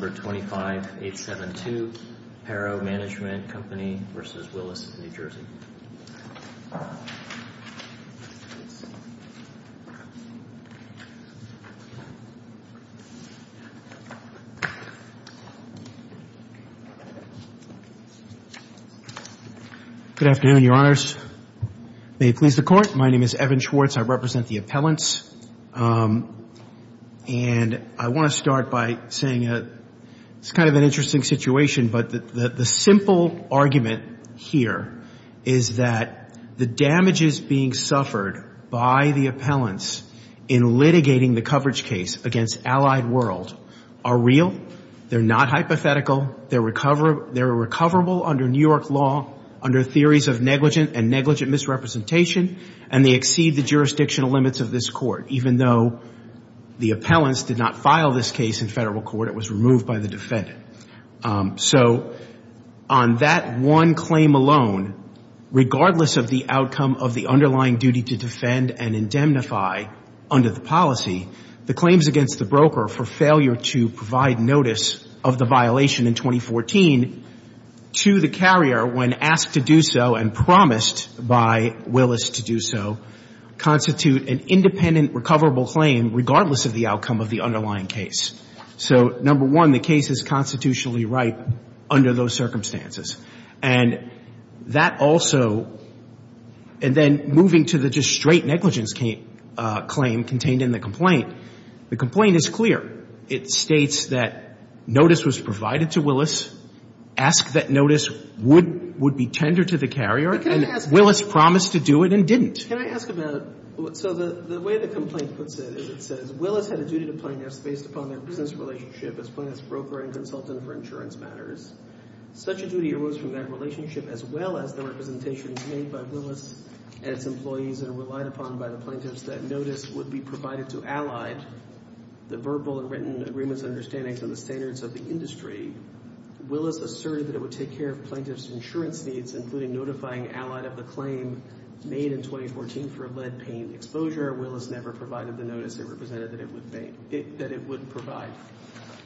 Number 25872, Paro Management Co., v. Willis, New Jersey. Good afternoon, Your Honors. May it please the Court. My name is Evan Schwartz. I represent the appellants. And I want to start by saying it's kind of an interesting situation, but the simple argument here is that the damages being suffered by the appellants in litigating the coverage case against Allied World are real, they're not hypothetical, they're recoverable under New York law under theories of negligent and negligent misrepresentation, and they exceed the jurisdictional limits of this Court, even though the appellants did not file this case in federal court, it was removed by the defendant. So on that one claim alone, regardless of the outcome of the underlying duty to defend and indemnify under the policy, the claims against the broker for failure to provide notice of the violation in 2014 to the carrier when asked to do so and promised by Willis to do so constitute an independent recoverable claim regardless of the outcome of the underlying case. So number one, the case is constitutionally ripe under those circumstances. And that also — and then moving to the just straight negligence claim contained in the complaint, the complaint is clear. It states that notice was provided to Willis, asked that notice would be tendered to the claimant, who didn't. Can I ask about — so the way the complaint puts it is it says, Willis had a duty to plaintiffs based upon their business relationship as plaintiff's broker and consultant for insurance matters. Such a duty arose from that relationship as well as the representations made by Willis and its employees and relied upon by the plaintiffs that notice would be provided to Allied, the verbal and written agreements and understandings of the standards of the industry. Willis asserted that it would take care of plaintiffs' insurance needs, including notifying Allied of the claim made in 2014 for lead paint exposure. Willis never provided the notice it represented that it would provide.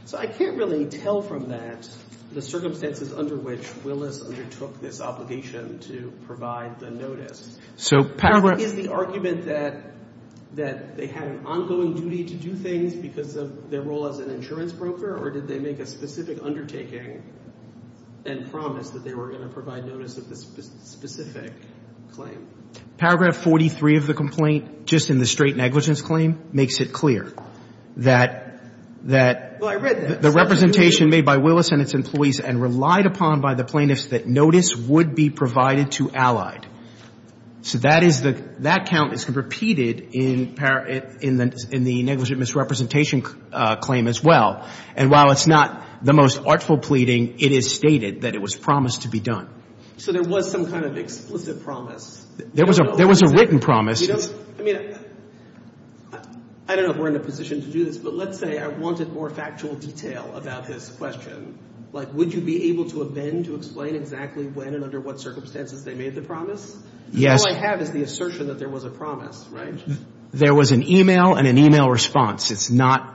So I can't really tell from that the circumstances under which Willis undertook this obligation to provide the notice. So paragraph — Is the argument that they had an ongoing duty to do things because of their role as an insurance broker, or did they make a specific undertaking and promise that they were going to provide the notice of the specific claim? Paragraph 43 of the complaint, just in the straight negligence claim, makes it clear that — Well, I read that. The representation made by Willis and its employees and relied upon by the plaintiffs that notice would be provided to Allied. So that is the — that count is repeated in the negligent misrepresentation claim as well. And while it's not the most artful pleading, it is stated that it was promised to be done. So there was some kind of explicit promise? There was a — there was a written promise. You don't — I mean, I don't know if we're in a position to do this, but let's say I wanted more factual detail about this question. Like, would you be able to amend to explain exactly when and under what circumstances they made the promise? Yes. All I have is the assertion that there was a promise, right? There was an e-mail and an e-mail response. It's not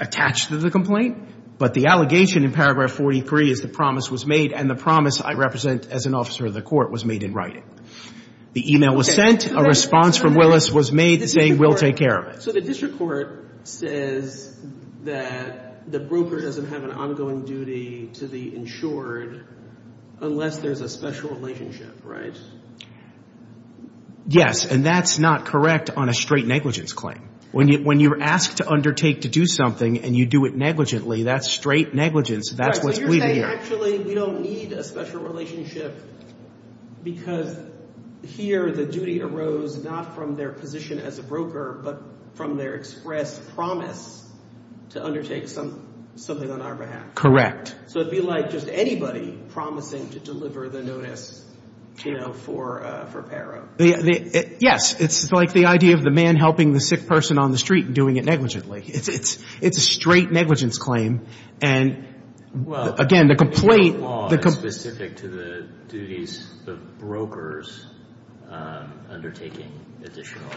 attached to the complaint. But the allegation in paragraph 43 is the promise was made, and the promise I represent as an officer of the court was made in writing. The e-mail was sent. A response from Willis was made saying, we'll take care of it. So the district court says that the broker doesn't have an ongoing duty to the insured unless there's a special relationship, right? Yes. And that's not correct on a straight negligence claim. When you're asked to undertake to do something and you do it negligently, that's straight negligence. That's what's bleeding here. So you're saying, actually, we don't need a special relationship because here the duty arose not from their position as a broker, but from their express promise to undertake some — something on our behalf. Correct. So it'd be like just anybody promising to deliver the notice, you know, for — for Yes. It's like the idea of the man helping the sick person on the street and doing it negligently. It's a straight negligence claim. And, again, the complaint — Well, the law is specific to the duties of brokers undertaking additional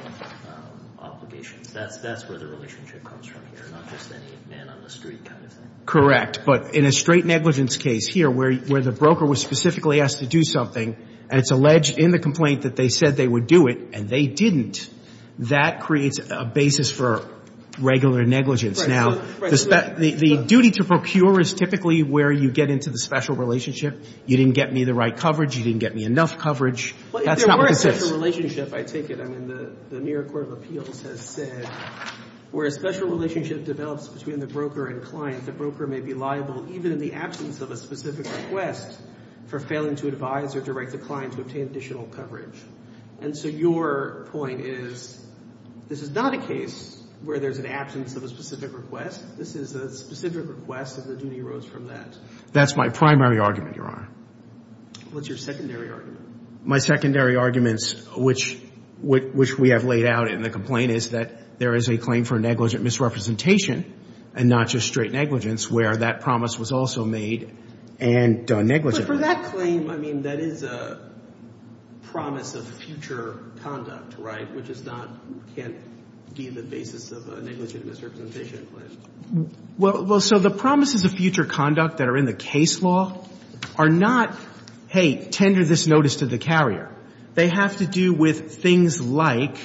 obligations. That's where the relationship comes from here, not just any man on the street kind of thing. Correct. But in a straight negligence case here where the broker was specifically asked to do something and it's alleged in the complaint that they said they would do it and they didn't, that creates a basis for regular negligence. Now, the duty to procure is typically where you get into the special relationship. You didn't get me the right coverage. You didn't get me enough coverage. That's not what this is. Well, if there were a special relationship, I take it — I mean, the New York Court of Appeals has said where a special relationship develops between the broker and client, the broker may be liable even in the absence of a specific request for failing to advise or direct the client to obtain additional coverage. And so your point is this is not a case where there's an absence of a specific request. This is a specific request and the duty arose from that. That's my primary argument, Your Honor. What's your secondary argument? My secondary arguments, which we have laid out in the complaint, is that there is a claim for negligent misrepresentation and not just straight negligence where that promise was also made and done negligently. But for that claim, I mean, that is a promise of future conduct, right, which is not — can't be the basis of a negligent misrepresentation claim. Well, so the promises of future conduct that are in the case law are not, hey, tender this notice to the carrier. They have to do with things like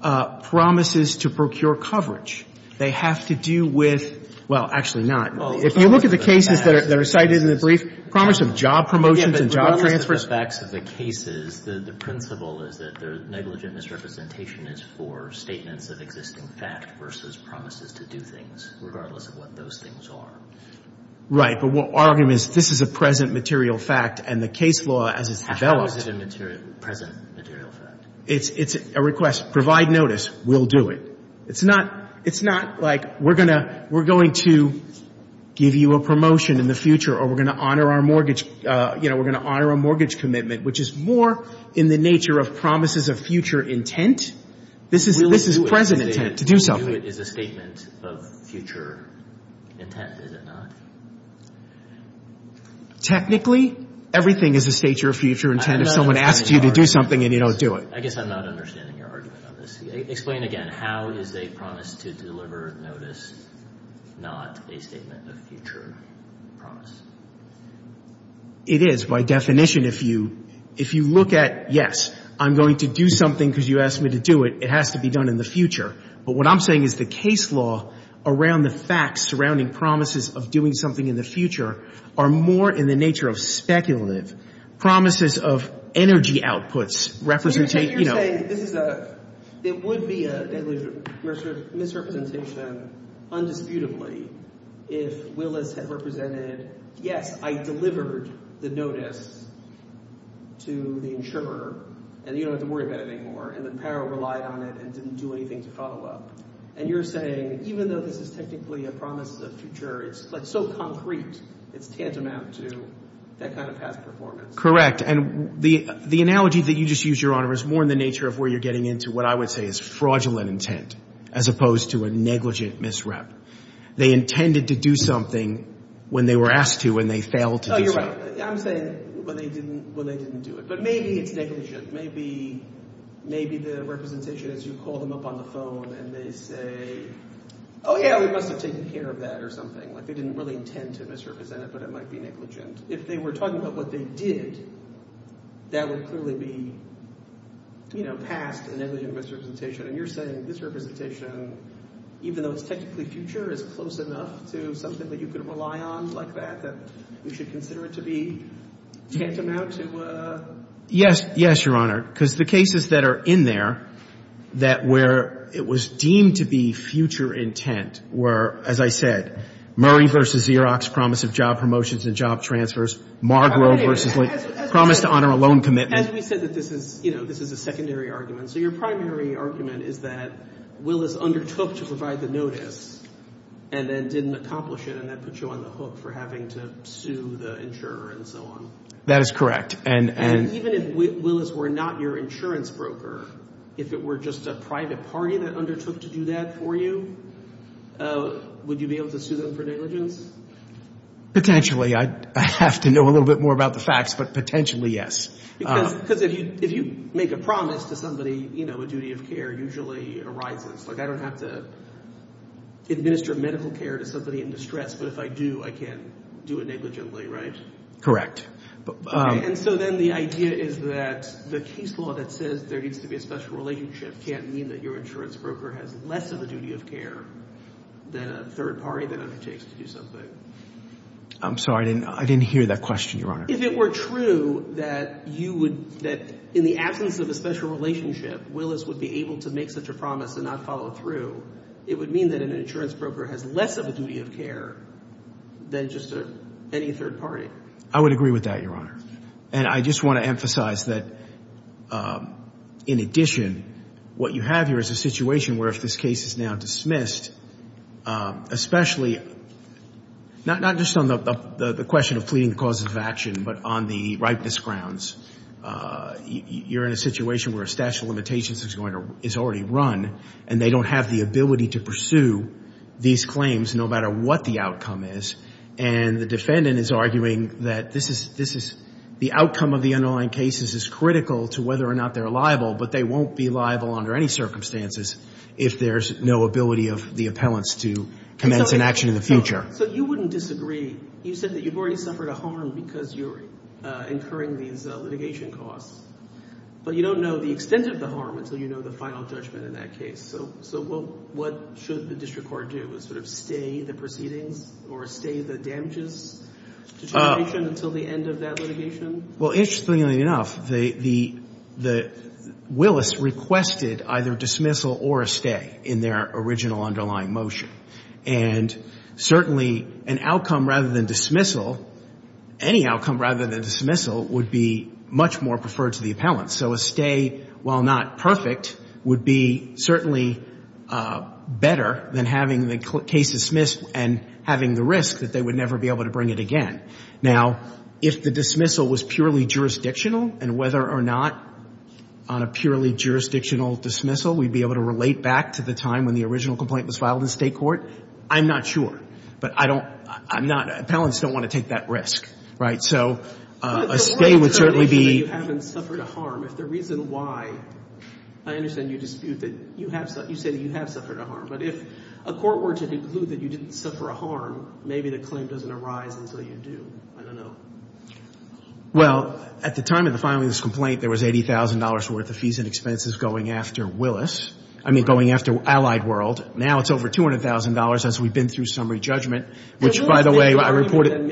promises to procure coverage. They have to do with — well, actually not. If you look at the cases that are cited in the brief, promise of job promotions and job transfers — Yeah, but regardless of the facts of the cases, the principle is that the negligent misrepresentation is for statements of existing fact versus promises to do things, regardless of what those things are. Right, but our argument is this is a present material fact and the case law, as it's developed — How is it a present material fact? It's a request. Provide notice. We'll do it. It's not — it's not like we're going to — we're going to give you a promotion in the future or we're going to honor our mortgage — you know, we're going to honor our mortgage commitment, which is more in the nature of promises of future intent. This is — this is present intent, to do something. We'll do it is a statement of future intent, is it not? Technically, everything is a statement of future intent if someone asks you to do something and you don't do it. I guess I'm not understanding your argument on this. Explain again. How is a promise to deliver notice not a statement of future promise? It is, by definition. If you — if you look at, yes, I'm going to do something because you asked me to do it, it has to be done in the future. But what I'm saying is the case law around the facts surrounding promises of doing something in the future are more in the nature of speculative. Promises of energy outputs represent — But you're saying this is a — it would be a misrepresentation undisputably if Willis had represented, yes, I delivered the notice to the insurer and you don't have to worry about it anymore, and then Paro relied on it and didn't do anything to follow up. And you're saying even though this is technically a promise of the future, it's so concrete, it's tantamount to that kind of past performance. Correct. And the analogy that you just used, Your Honor, is more in the nature of where you're getting into what I would say is fraudulent intent as opposed to a negligent misrep. They intended to do something when they were asked to and they failed to do something. Oh, you're right. I'm saying when they didn't — when they didn't do it. But maybe it's negligent. Maybe — maybe the representation is you call them up on the phone and they say, oh, yeah, we must have taken care of that or something. Like they didn't really intend to misrepresent it, but it might be negligent. If they were talking about what they did, that would clearly be, you know, past a negligent misrepresentation. And you're saying this representation, even though it's technically future, is close enough to something that you could rely on like that, that we should consider it to be tantamount to a — Yes, Your Honor. Because the cases that are in there that — where it was deemed to be future intent, were, as I said, Murray v. Xerox promise of job promotions and job transfers. Margrove v. — As we said — Promise to honor a loan commitment. As we said that this is, you know, this is a secondary argument. So your primary argument is that Willis undertook to provide the notice and then didn't accomplish it and that put you on the hook for having to sue the insurer and so on. That is correct. And — And even if Willis were not your insurance broker, if it were just a private party that undertook to do that for you, would you be able to sue them for negligence? Potentially. I'd have to know a little bit more about the facts, but potentially, yes. Because if you make a promise to somebody, you know, a duty of care usually arises. Like, I don't have to administer medical care to somebody in distress, but if I do, I can't do it negligently, right? Correct. And so then the idea is that the case law that says there needs to be a special relationship can't mean that your insurance broker has less of a duty of care than a third party that undertakes to do something. I'm sorry. I didn't hear that question, Your Honor. If it were true that you would — that in the absence of a special relationship, Willis would be able to make such a promise and not follow through, it would mean that an insurance broker has less of a duty of care than just any third party. I would agree with that, Your Honor. And I just want to emphasize that, in addition, what you have here is a situation where if this case is now dismissed, especially — not just on the question of fleeting causes of action, but on the ripeness grounds, you're in a situation where a statute of limitations is already run and they don't have the ability to pursue these claims no matter what the outcome is, and the defendant is arguing that this is — the outcome of the underlying cases is critical to whether or not they're liable, but they won't be liable under any circumstances if there's no ability of the appellants to commence an action in the future. So you wouldn't disagree. You said that you've already suffered a harm because you're incurring these litigation costs, but you don't know the extent of the harm until you know the final judgment in that case. So what should the district court do? Sort of stay the proceedings or stay the damages determination until the end of that litigation? Well, interestingly enough, the — Willis requested either dismissal or a stay in their original underlying motion. And certainly an outcome rather than dismissal — any outcome rather than dismissal would be much more preferred to the appellants. So a stay, while not perfect, would be certainly better than having the case dismissed and having the risk that they would never be able to bring it again. Now, if the dismissal was purely jurisdictional, and whether or not on a purely jurisdictional dismissal we'd be able to relate back to the time when the original complaint was filed in state court, I'm not sure. But I don't — I'm not — appellants don't want to take that risk, right? So a stay would certainly be — If the reason why — I understand you dispute that you have — you say that you have suffered a harm. But if a court were to conclude that you didn't suffer a harm, maybe the claim doesn't arise until you do. I don't know. Well, at the time of filing this complaint, there was $80,000 worth of fees and expenses going after Willis — I mean, going after Allied World. Now it's over $200,000 as we've been through summary judgment, which, by the way, I reported — from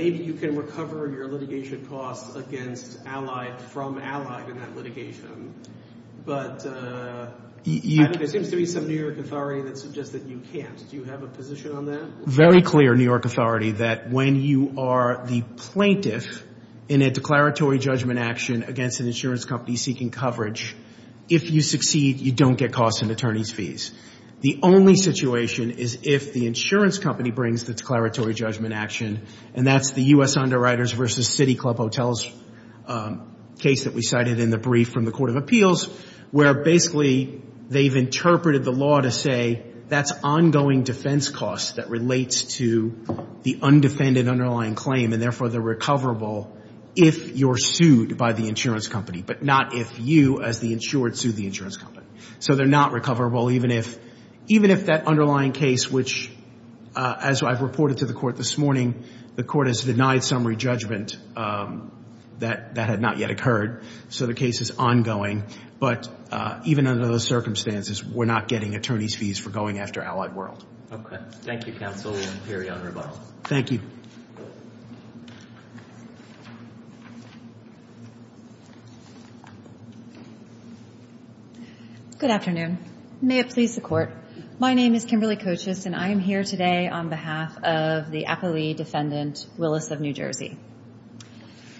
Allied in that litigation. But there seems to be some New York authority that suggests that you can't. Do you have a position on that? Very clear New York authority that when you are the plaintiff in a declaratory judgment action against an insurance company seeking coverage, if you succeed, you don't get costs and attorney's fees. The only situation is if the insurance company brings the declaratory judgment action, and that's the U.S. Underwriters v. City Club Hotels case that we cited in the brief from the Court of Appeals, where basically they've interpreted the law to say that's ongoing defense costs that relates to the undefended underlying claim, and therefore they're recoverable if you're sued by the insurance company, but not if you as the insured sue the insurance company. So they're not recoverable even if that underlying case, which, as I've reported to the Court this morning, the Court has denied summary judgment that that had not yet occurred. So the case is ongoing. But even under those circumstances, we're not getting attorney's fees for going after Allied World. Okay. Thank you, counsel. We'll interrupt. Thank you. Good afternoon. May it please the Court. My name is Kimberly Kochus, and I am here today on behalf of the Appellee Defendant Willis of New Jersey.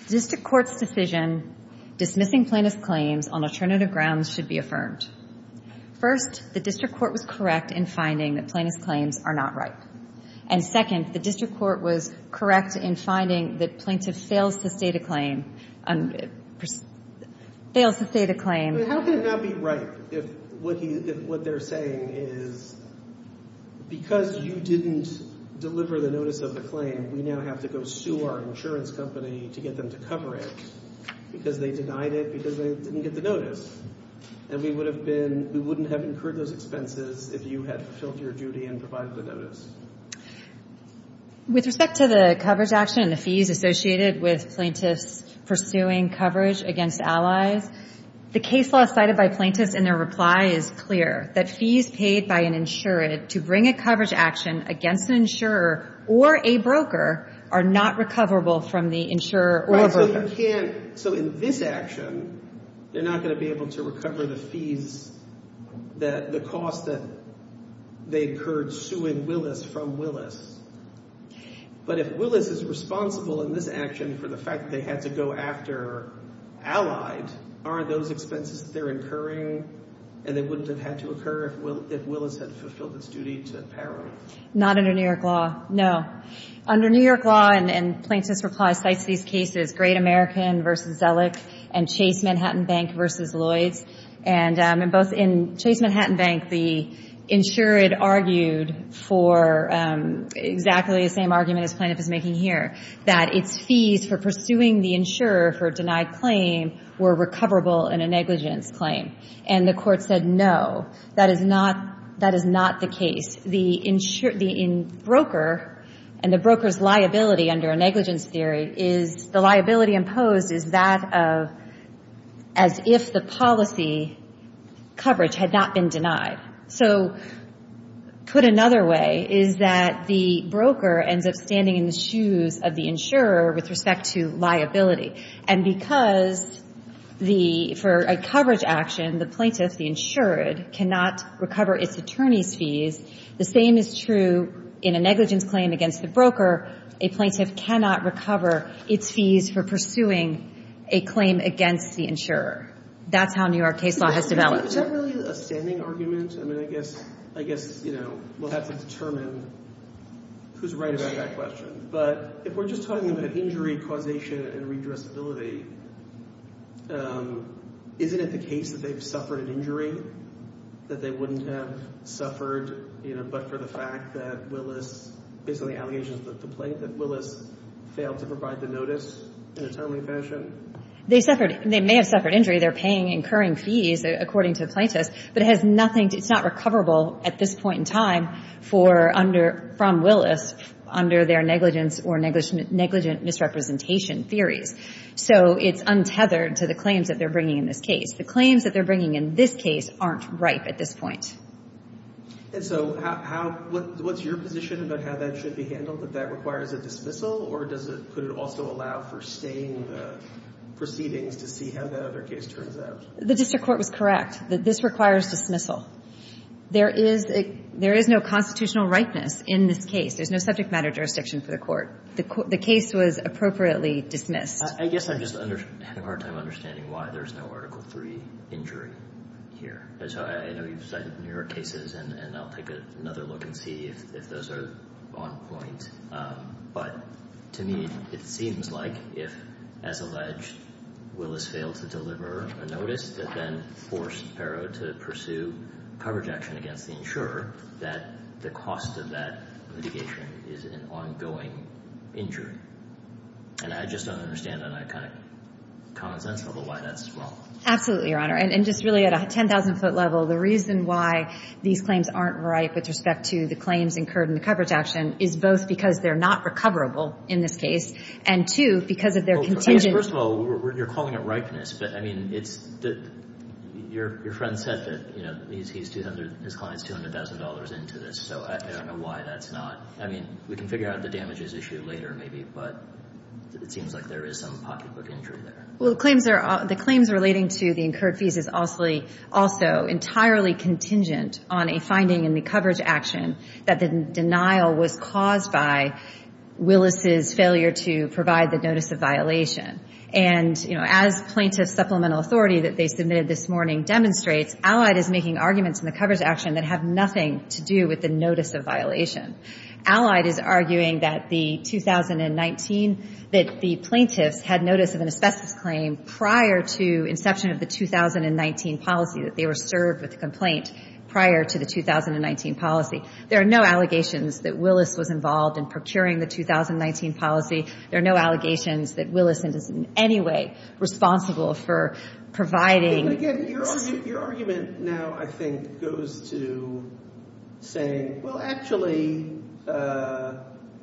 District Court's decision dismissing plaintiff's claims on alternative grounds should be affirmed. First, the district court was correct in finding that plaintiff's claims are not ripe. And second, the district court was correct in finding that plaintiff fails to state a claim. Fails to state a claim. How can it not be ripe if what they're saying is because you didn't deliver the notice of the claim, we now have to go sue our insurance company to get them to cover it because they denied it because they didn't get the notice. And we would have been – we wouldn't have incurred those expenses if you had fulfilled your duty and provided the notice. With respect to the coverage action and the fees associated with plaintiffs pursuing coverage against Allies, the case law cited by plaintiffs in their reply is clear, that fees paid by an insured to bring a coverage action against an insurer or a broker are not recoverable from the insurer or broker. Right, so you can't – so in this action, they're not going to be able to recover the fees that – the cost that they incurred suing Willis from Willis. But if Willis is responsible in this action for the fact that they had to go after Allies, aren't those expenses that they're incurring and they wouldn't have had to occur if Willis had fulfilled its duty to power? Not under New York law, no. Under New York law, and Plaintiff's reply cites these cases, Great American v. Zellick and Chase Manhattan Bank v. Lloyds. And in both – in Chase Manhattan Bank, the insurer had argued for exactly the same argument as Plaintiff is making here, that its fees for pursuing the insurer for a denied claim were recoverable in a negligence claim. And the Court said no, that is not – that is not the case. The broker and the broker's liability under a negligence theory is – the liability imposed is that of as if the policy coverage had not been denied. So put another way is that the broker ends up standing in the shoes of the insurer with respect to liability. And because the – for a coverage action, the plaintiff, the insured, cannot recover its attorney's fees, the same is true in a negligence claim against the broker. A plaintiff cannot recover its fees for pursuing a claim against the insurer. That's how New York case law has developed. Is that really a standing argument? I mean, I guess – I guess, you know, we'll have to determine who's right about that question. But if we're just talking about injury causation and redressability, isn't it the case that they've suffered an injury that they wouldn't have suffered, you know, but for the fact that Willis – based on the allegations that the plaintiff, Willis failed to provide the notice in a timely fashion? They suffered – they may have suffered injury. They're paying incurring fees, according to the plaintiffs. But it has nothing – it's not recoverable at this point in time for under – from Willis under their negligence or negligent misrepresentation theories. So it's untethered to the claims that they're bringing in this case. The claims that they're bringing in this case aren't ripe at this point. And so how – what's your position about how that should be handled, that that requires a dismissal? Or does it – could it also allow for staying proceedings to see how that other case turns out? The district court was correct that this requires dismissal. There is – there is no constitutional ripeness in this case. There's no subject matter jurisdiction for the court. The case was appropriately dismissed. I guess I'm just having a hard time understanding why there's no Article III injury here. And so I know you've cited newer cases, and I'll take another look and see if those are on point. But to me, it seems like if, as alleged, Willis failed to deliver a notice that then forced Ferro to pursue coverage action against the insurer, that the cost of that litigation is an ongoing injury. And I just don't understand on a kind of common sense level why that's wrong. Absolutely, Your Honor. And just really at a 10,000-foot level, the reason why these claims aren't ripe with respect to the claims incurred in the coverage action is both because they're not recoverable in this case and, two, because of their contingent – Well, first of all, you're calling it ripeness. But, I mean, it's – your friend said that, you know, he's – his client's $200,000 into this. So I don't know why that's not – I mean, we can figure out the damages issue later, maybe. But it seems like there is some pocketbook injury there. Well, the claims relating to the incurred fees is also entirely contingent on a finding in the coverage action that the denial was caused by Willis's failure to provide the notice of violation. And, you know, as plaintiff supplemental authority that they submitted this morning demonstrates, Allied is making arguments in the coverage action that have nothing to do with the notice of violation. Allied is arguing that the 2019 – that the plaintiffs had notice of an asbestos claim prior to inception of the 2019 policy, that they were served with the complaint prior to the 2019 policy. There are no allegations that Willis was involved in procuring the 2019 policy. There are no allegations that Willis is in any way responsible for providing – Well, actually,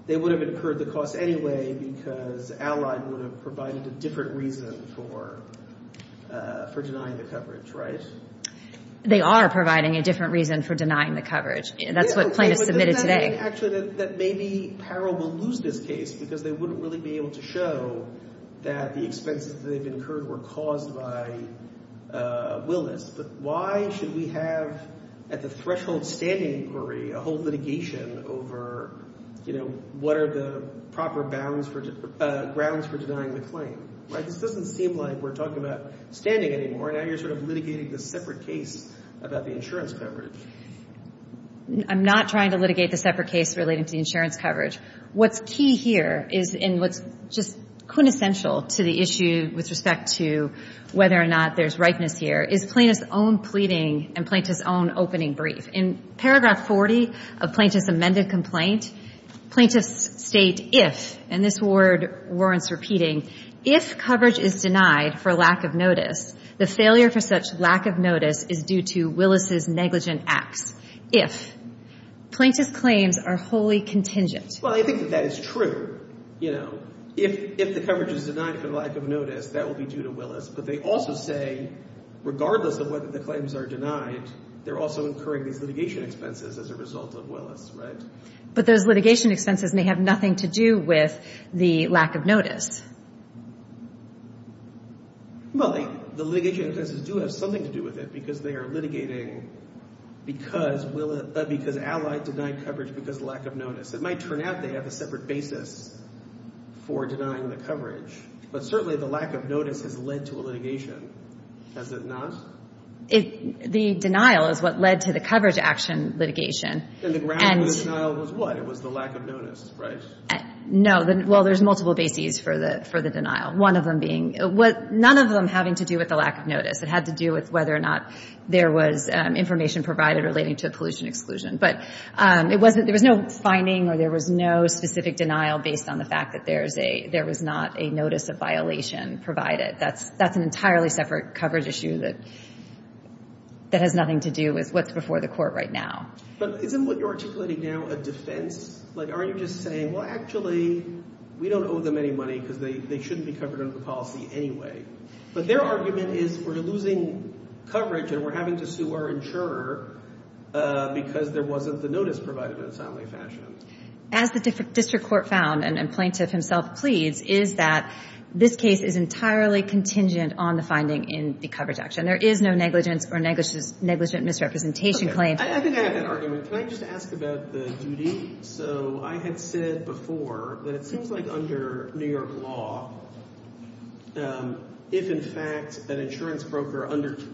they would have incurred the cost anyway because Allied would have provided a different reason for denying the coverage, right? They are providing a different reason for denying the coverage. That's what plaintiffs submitted today. Actually, that maybe peril will lose this case because they wouldn't really be able to show that the expenses that they've incurred were caused by Willis. But why should we have at the threshold standing inquiry a whole litigation over, you know, what are the proper bounds for – grounds for denying the claim, right? This doesn't seem like we're talking about standing anymore. Now you're sort of litigating this separate case about the insurance coverage. I'm not trying to litigate the separate case relating to the insurance coverage. What's key here is in what's just quintessential to the issue with respect to whether or not there's rightness here is plaintiff's own pleading and plaintiff's own opening brief. In paragraph 40 of plaintiff's amended complaint, plaintiffs state if, and this word warrants repeating, if coverage is denied for lack of notice, the failure for such lack of notice is due to Willis's negligent acts. If. Plaintiff's claims are wholly contingent. Well, I think that that is true. You know, if the coverage is denied for lack of notice, that will be due to Willis. But they also say regardless of whether the claims are denied, they're also incurring these litigation expenses as a result of Willis, right? But those litigation expenses may have nothing to do with the lack of notice. Well, the litigation expenses do have something to do with it because they are litigating because Willis – because Allied denied coverage because of lack of notice. It might turn out they have a separate basis for denying the coverage. But certainly the lack of notice has led to a litigation. Has it not? The denial is what led to the coverage action litigation. And the ground for the denial was what? It was the lack of notice, right? No. Well, there's multiple bases for the denial, one of them being – none of them having to do with the lack of notice. It had to do with whether or not there was information provided relating to pollution exclusion. But it wasn't – there was no finding or there was no specific denial based on the fact that there was not a notice of violation provided. That's an entirely separate coverage issue that has nothing to do with what's before the court right now. But isn't what you're articulating now a defense? Like aren't you just saying, well, actually, we don't owe them any money because they shouldn't be covered under the policy anyway. But their argument is we're losing coverage and we're having to sue our insurer because there wasn't the notice provided in a timely fashion. As the district court found, and Plaintiff himself pleads, is that this case is entirely contingent on the finding in the coverage action. There is no negligence or negligent misrepresentation claim. Okay. I think I have an argument. Can I just ask about the duty? So I had said before that it seems like under New York law, if in fact an insurance broker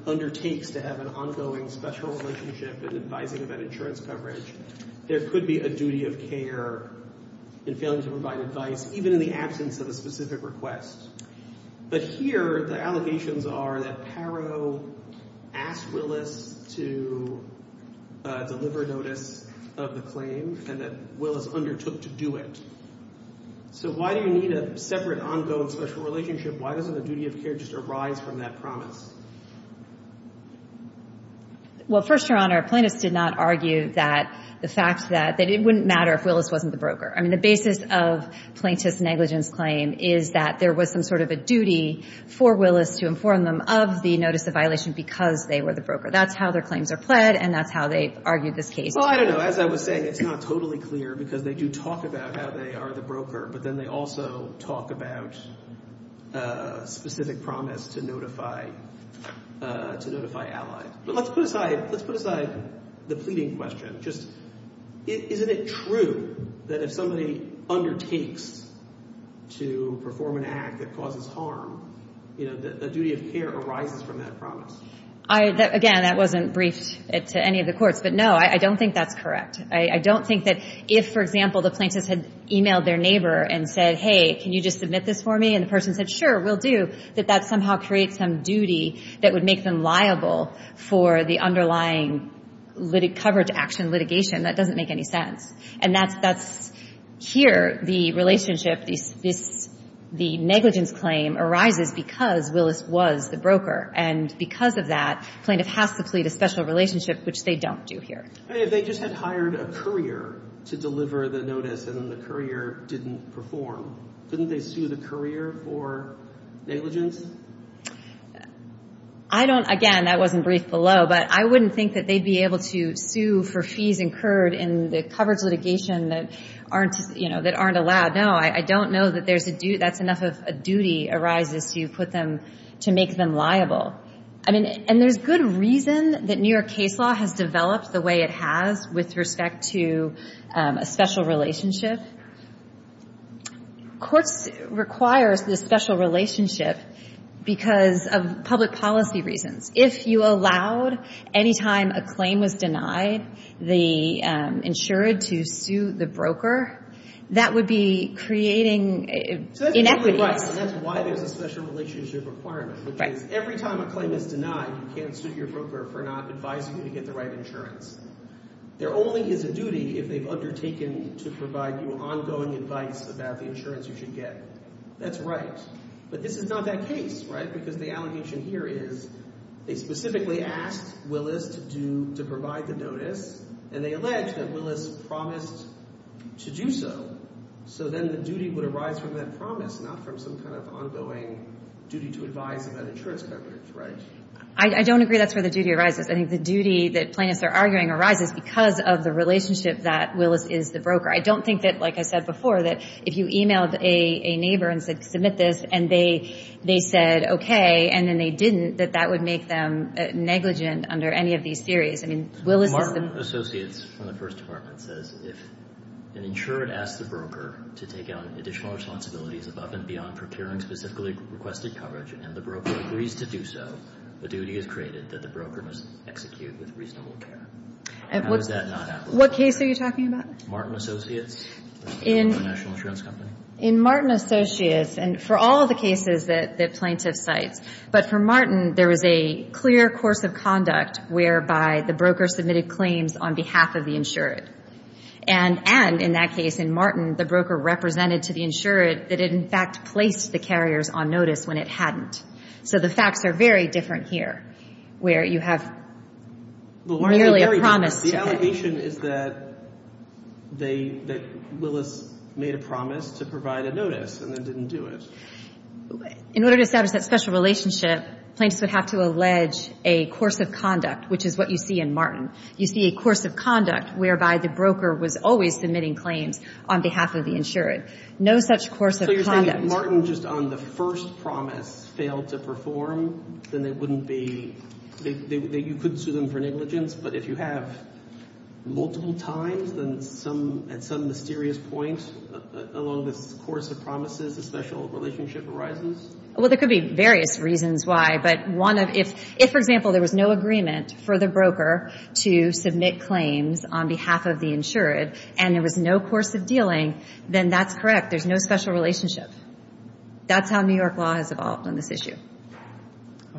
undertakes to have an ongoing special relationship and advising about insurance coverage, there could be a duty of care in failing to provide advice, even in the absence of a specific request. But here the allegations are that Paro asked Willis to deliver notice of the claim and that Willis undertook to do it. So why do you need a separate ongoing special relationship? Why doesn't the duty of care just arise from that promise? Well, first, Your Honor, Plaintiffs did not argue that the fact that it wouldn't matter if Willis wasn't the broker. I mean, the basis of Plaintiff's negligence claim is that there was some sort of a duty for Willis to inform them of the notice of violation because they were the broker. That's how their claims are pled and that's how they've argued this case. Well, I don't know. As I was saying, it's not totally clear because they do talk about how they are the broker, but then they also talk about specific promise to notify allies. But let's put aside the pleading question. Just isn't it true that if somebody undertakes to perform an act that causes harm, the duty of care arises from that promise? Again, that wasn't briefed to any of the courts. But, no, I don't think that's correct. I don't think that if, for example, the plaintiff had emailed their neighbor and said, hey, can you just submit this for me, and the person said, sure, we'll do, that that somehow creates some duty that would make them liable for the underlying coverage action litigation. That doesn't make any sense. And that's here the relationship, the negligence claim arises because Willis was the broker. And because of that, the plaintiff has to plead a special relationship, which they don't do here. If they just had hired a courier to deliver the notice and the courier didn't perform, couldn't they sue the courier for negligence? I don't, again, that wasn't briefed below, but I wouldn't think that they'd be able to sue for fees incurred in the coverage litigation that aren't, you know, that aren't allowed. No, I don't know that that's enough of a duty arises to put them, to make them liable. I mean, and there's good reason that New York case law has developed the way it has with respect to a special relationship. Courts require this special relationship because of public policy reasons. If you allowed, anytime a claim was denied, the insured to sue the broker, that would be creating inequities. So that's totally right, and that's why there's a special relationship requirement, which is every time a claim is denied, you can't sue your broker for not advising you to get the right insurance. There only is a duty if they've undertaken to provide you ongoing advice about the insurance you should get. That's right. But this is not that case, right? Because the allegation here is they specifically asked Willis to provide the notice, and they allege that Willis promised to do so. So then the duty would arise from that promise, not from some kind of ongoing duty to advise about insurance coverage, right? I don't agree that's where the duty arises. I think the duty that plaintiffs are arguing arises because of the relationship that Willis is the broker. I don't think that, like I said before, that if you emailed a neighbor and said, submit this, and they said okay, and then they didn't, that that would make them negligent under any of these theories. I mean, Willis is the broker. Martin Associates from the First Department says, if an insured asks the broker to take on additional responsibilities above and beyond procuring specifically requested coverage, and the broker agrees to do so, the duty is created that the broker must execute with reasonable care. How is that not applicable? What case are you talking about? Martin Associates. The National Insurance Company. In Martin Associates, and for all of the cases that plaintiffs cite, but for Martin, there was a clear course of conduct whereby the broker submitted claims on behalf of the insured. And in that case, in Martin, the broker represented to the insured that it in fact placed the carriers on notice when it hadn't. So the facts are very different here, where you have merely a promise to pay. The allegation is that they, that Willis made a promise to provide a notice and then didn't do it. In order to establish that special relationship, plaintiffs would have to allege a course of conduct, which is what you see in Martin. You see a course of conduct whereby the broker was always submitting claims on behalf of the insured. No such course of conduct. So you're saying if Martin just on the first promise failed to perform, then they wouldn't be, you couldn't sue them for negligence, but if you have multiple times, then some, at some mysterious point along this course of promises, a special relationship arises? Well, there could be various reasons why. But one of, if, for example, there was no agreement for the broker to submit claims on behalf of the insured and there was no course of dealing, then that's correct. There's no special relationship. That's how New York law has evolved on this issue.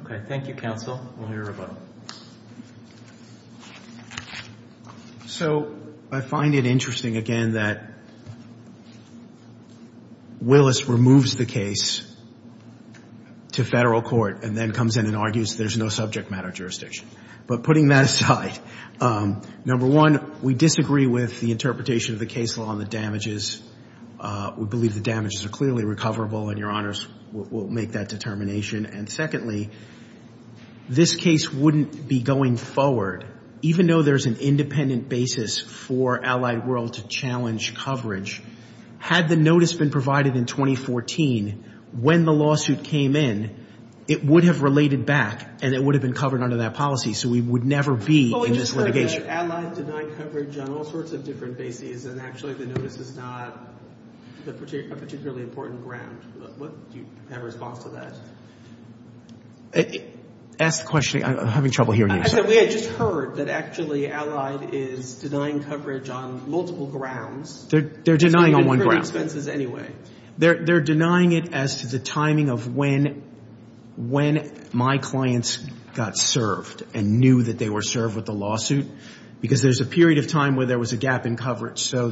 Okay. Thank you, counsel. We'll hear a vote. So I find it interesting, again, that Willis removes the case to federal court and then comes in and argues there's no subject matter jurisdiction. But putting that aside, number one, we disagree with the interpretation of the case law on the damages. We believe the damages are clearly recoverable and Your Honors will make that determination. And secondly, this case wouldn't be going forward, even though there's an independent basis for Allied World to challenge coverage. Had the notice been provided in 2014, when the lawsuit came in, it would have related back and it would have been covered under that policy, so we would never be in this litigation. It looks like Allied denied coverage on all sorts of different bases and actually the notice is not a particularly important ground. Do you have a response to that? Ask the question. I'm having trouble hearing you. We had just heard that actually Allied is denying coverage on multiple grounds. They're denying on one ground. They're denying it as to the timing of when my clients got served and knew that they were served with the lawsuit, because there's a period of time where there was a gap in coverage. So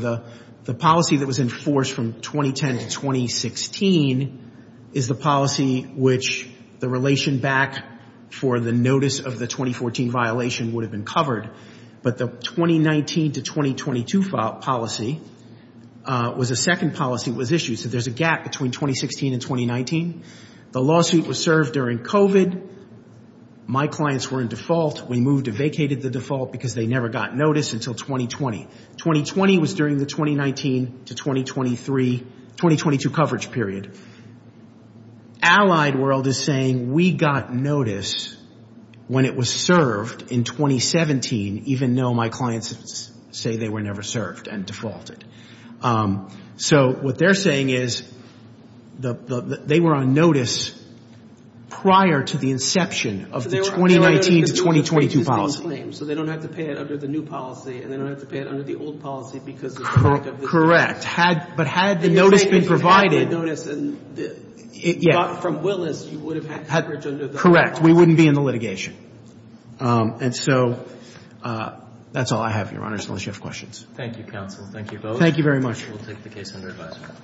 the policy that was enforced from 2010 to 2016 is the policy which the relation back for the notice of the 2014 violation would have been covered, but the 2019 to 2022 policy was a second policy that was issued, so there's a gap between 2016 and 2019. The lawsuit was served during COVID. My clients were in default. We moved and vacated the default because they never got notice until 2020. 2020 was during the 2019 to 2023, 2022 coverage period. Allied World is saying we got notice when it was served in 2017, even though my clients say they were never served and defaulted. So what they're saying is they were on notice prior to the inception of the 2019 to 2022 policy. So they don't have to pay it under the new policy, and they don't have to pay it under the old policy because of the lack of the new policy. Correct. But had the notice been provided, and you got it from Willis, you would have had coverage under the old policy. Correct. We wouldn't be in the litigation. And so that's all I have, Your Honor, as long as you have questions. Thank you, counsel. Thank you both. Thank you very much. We'll take the case under advisement.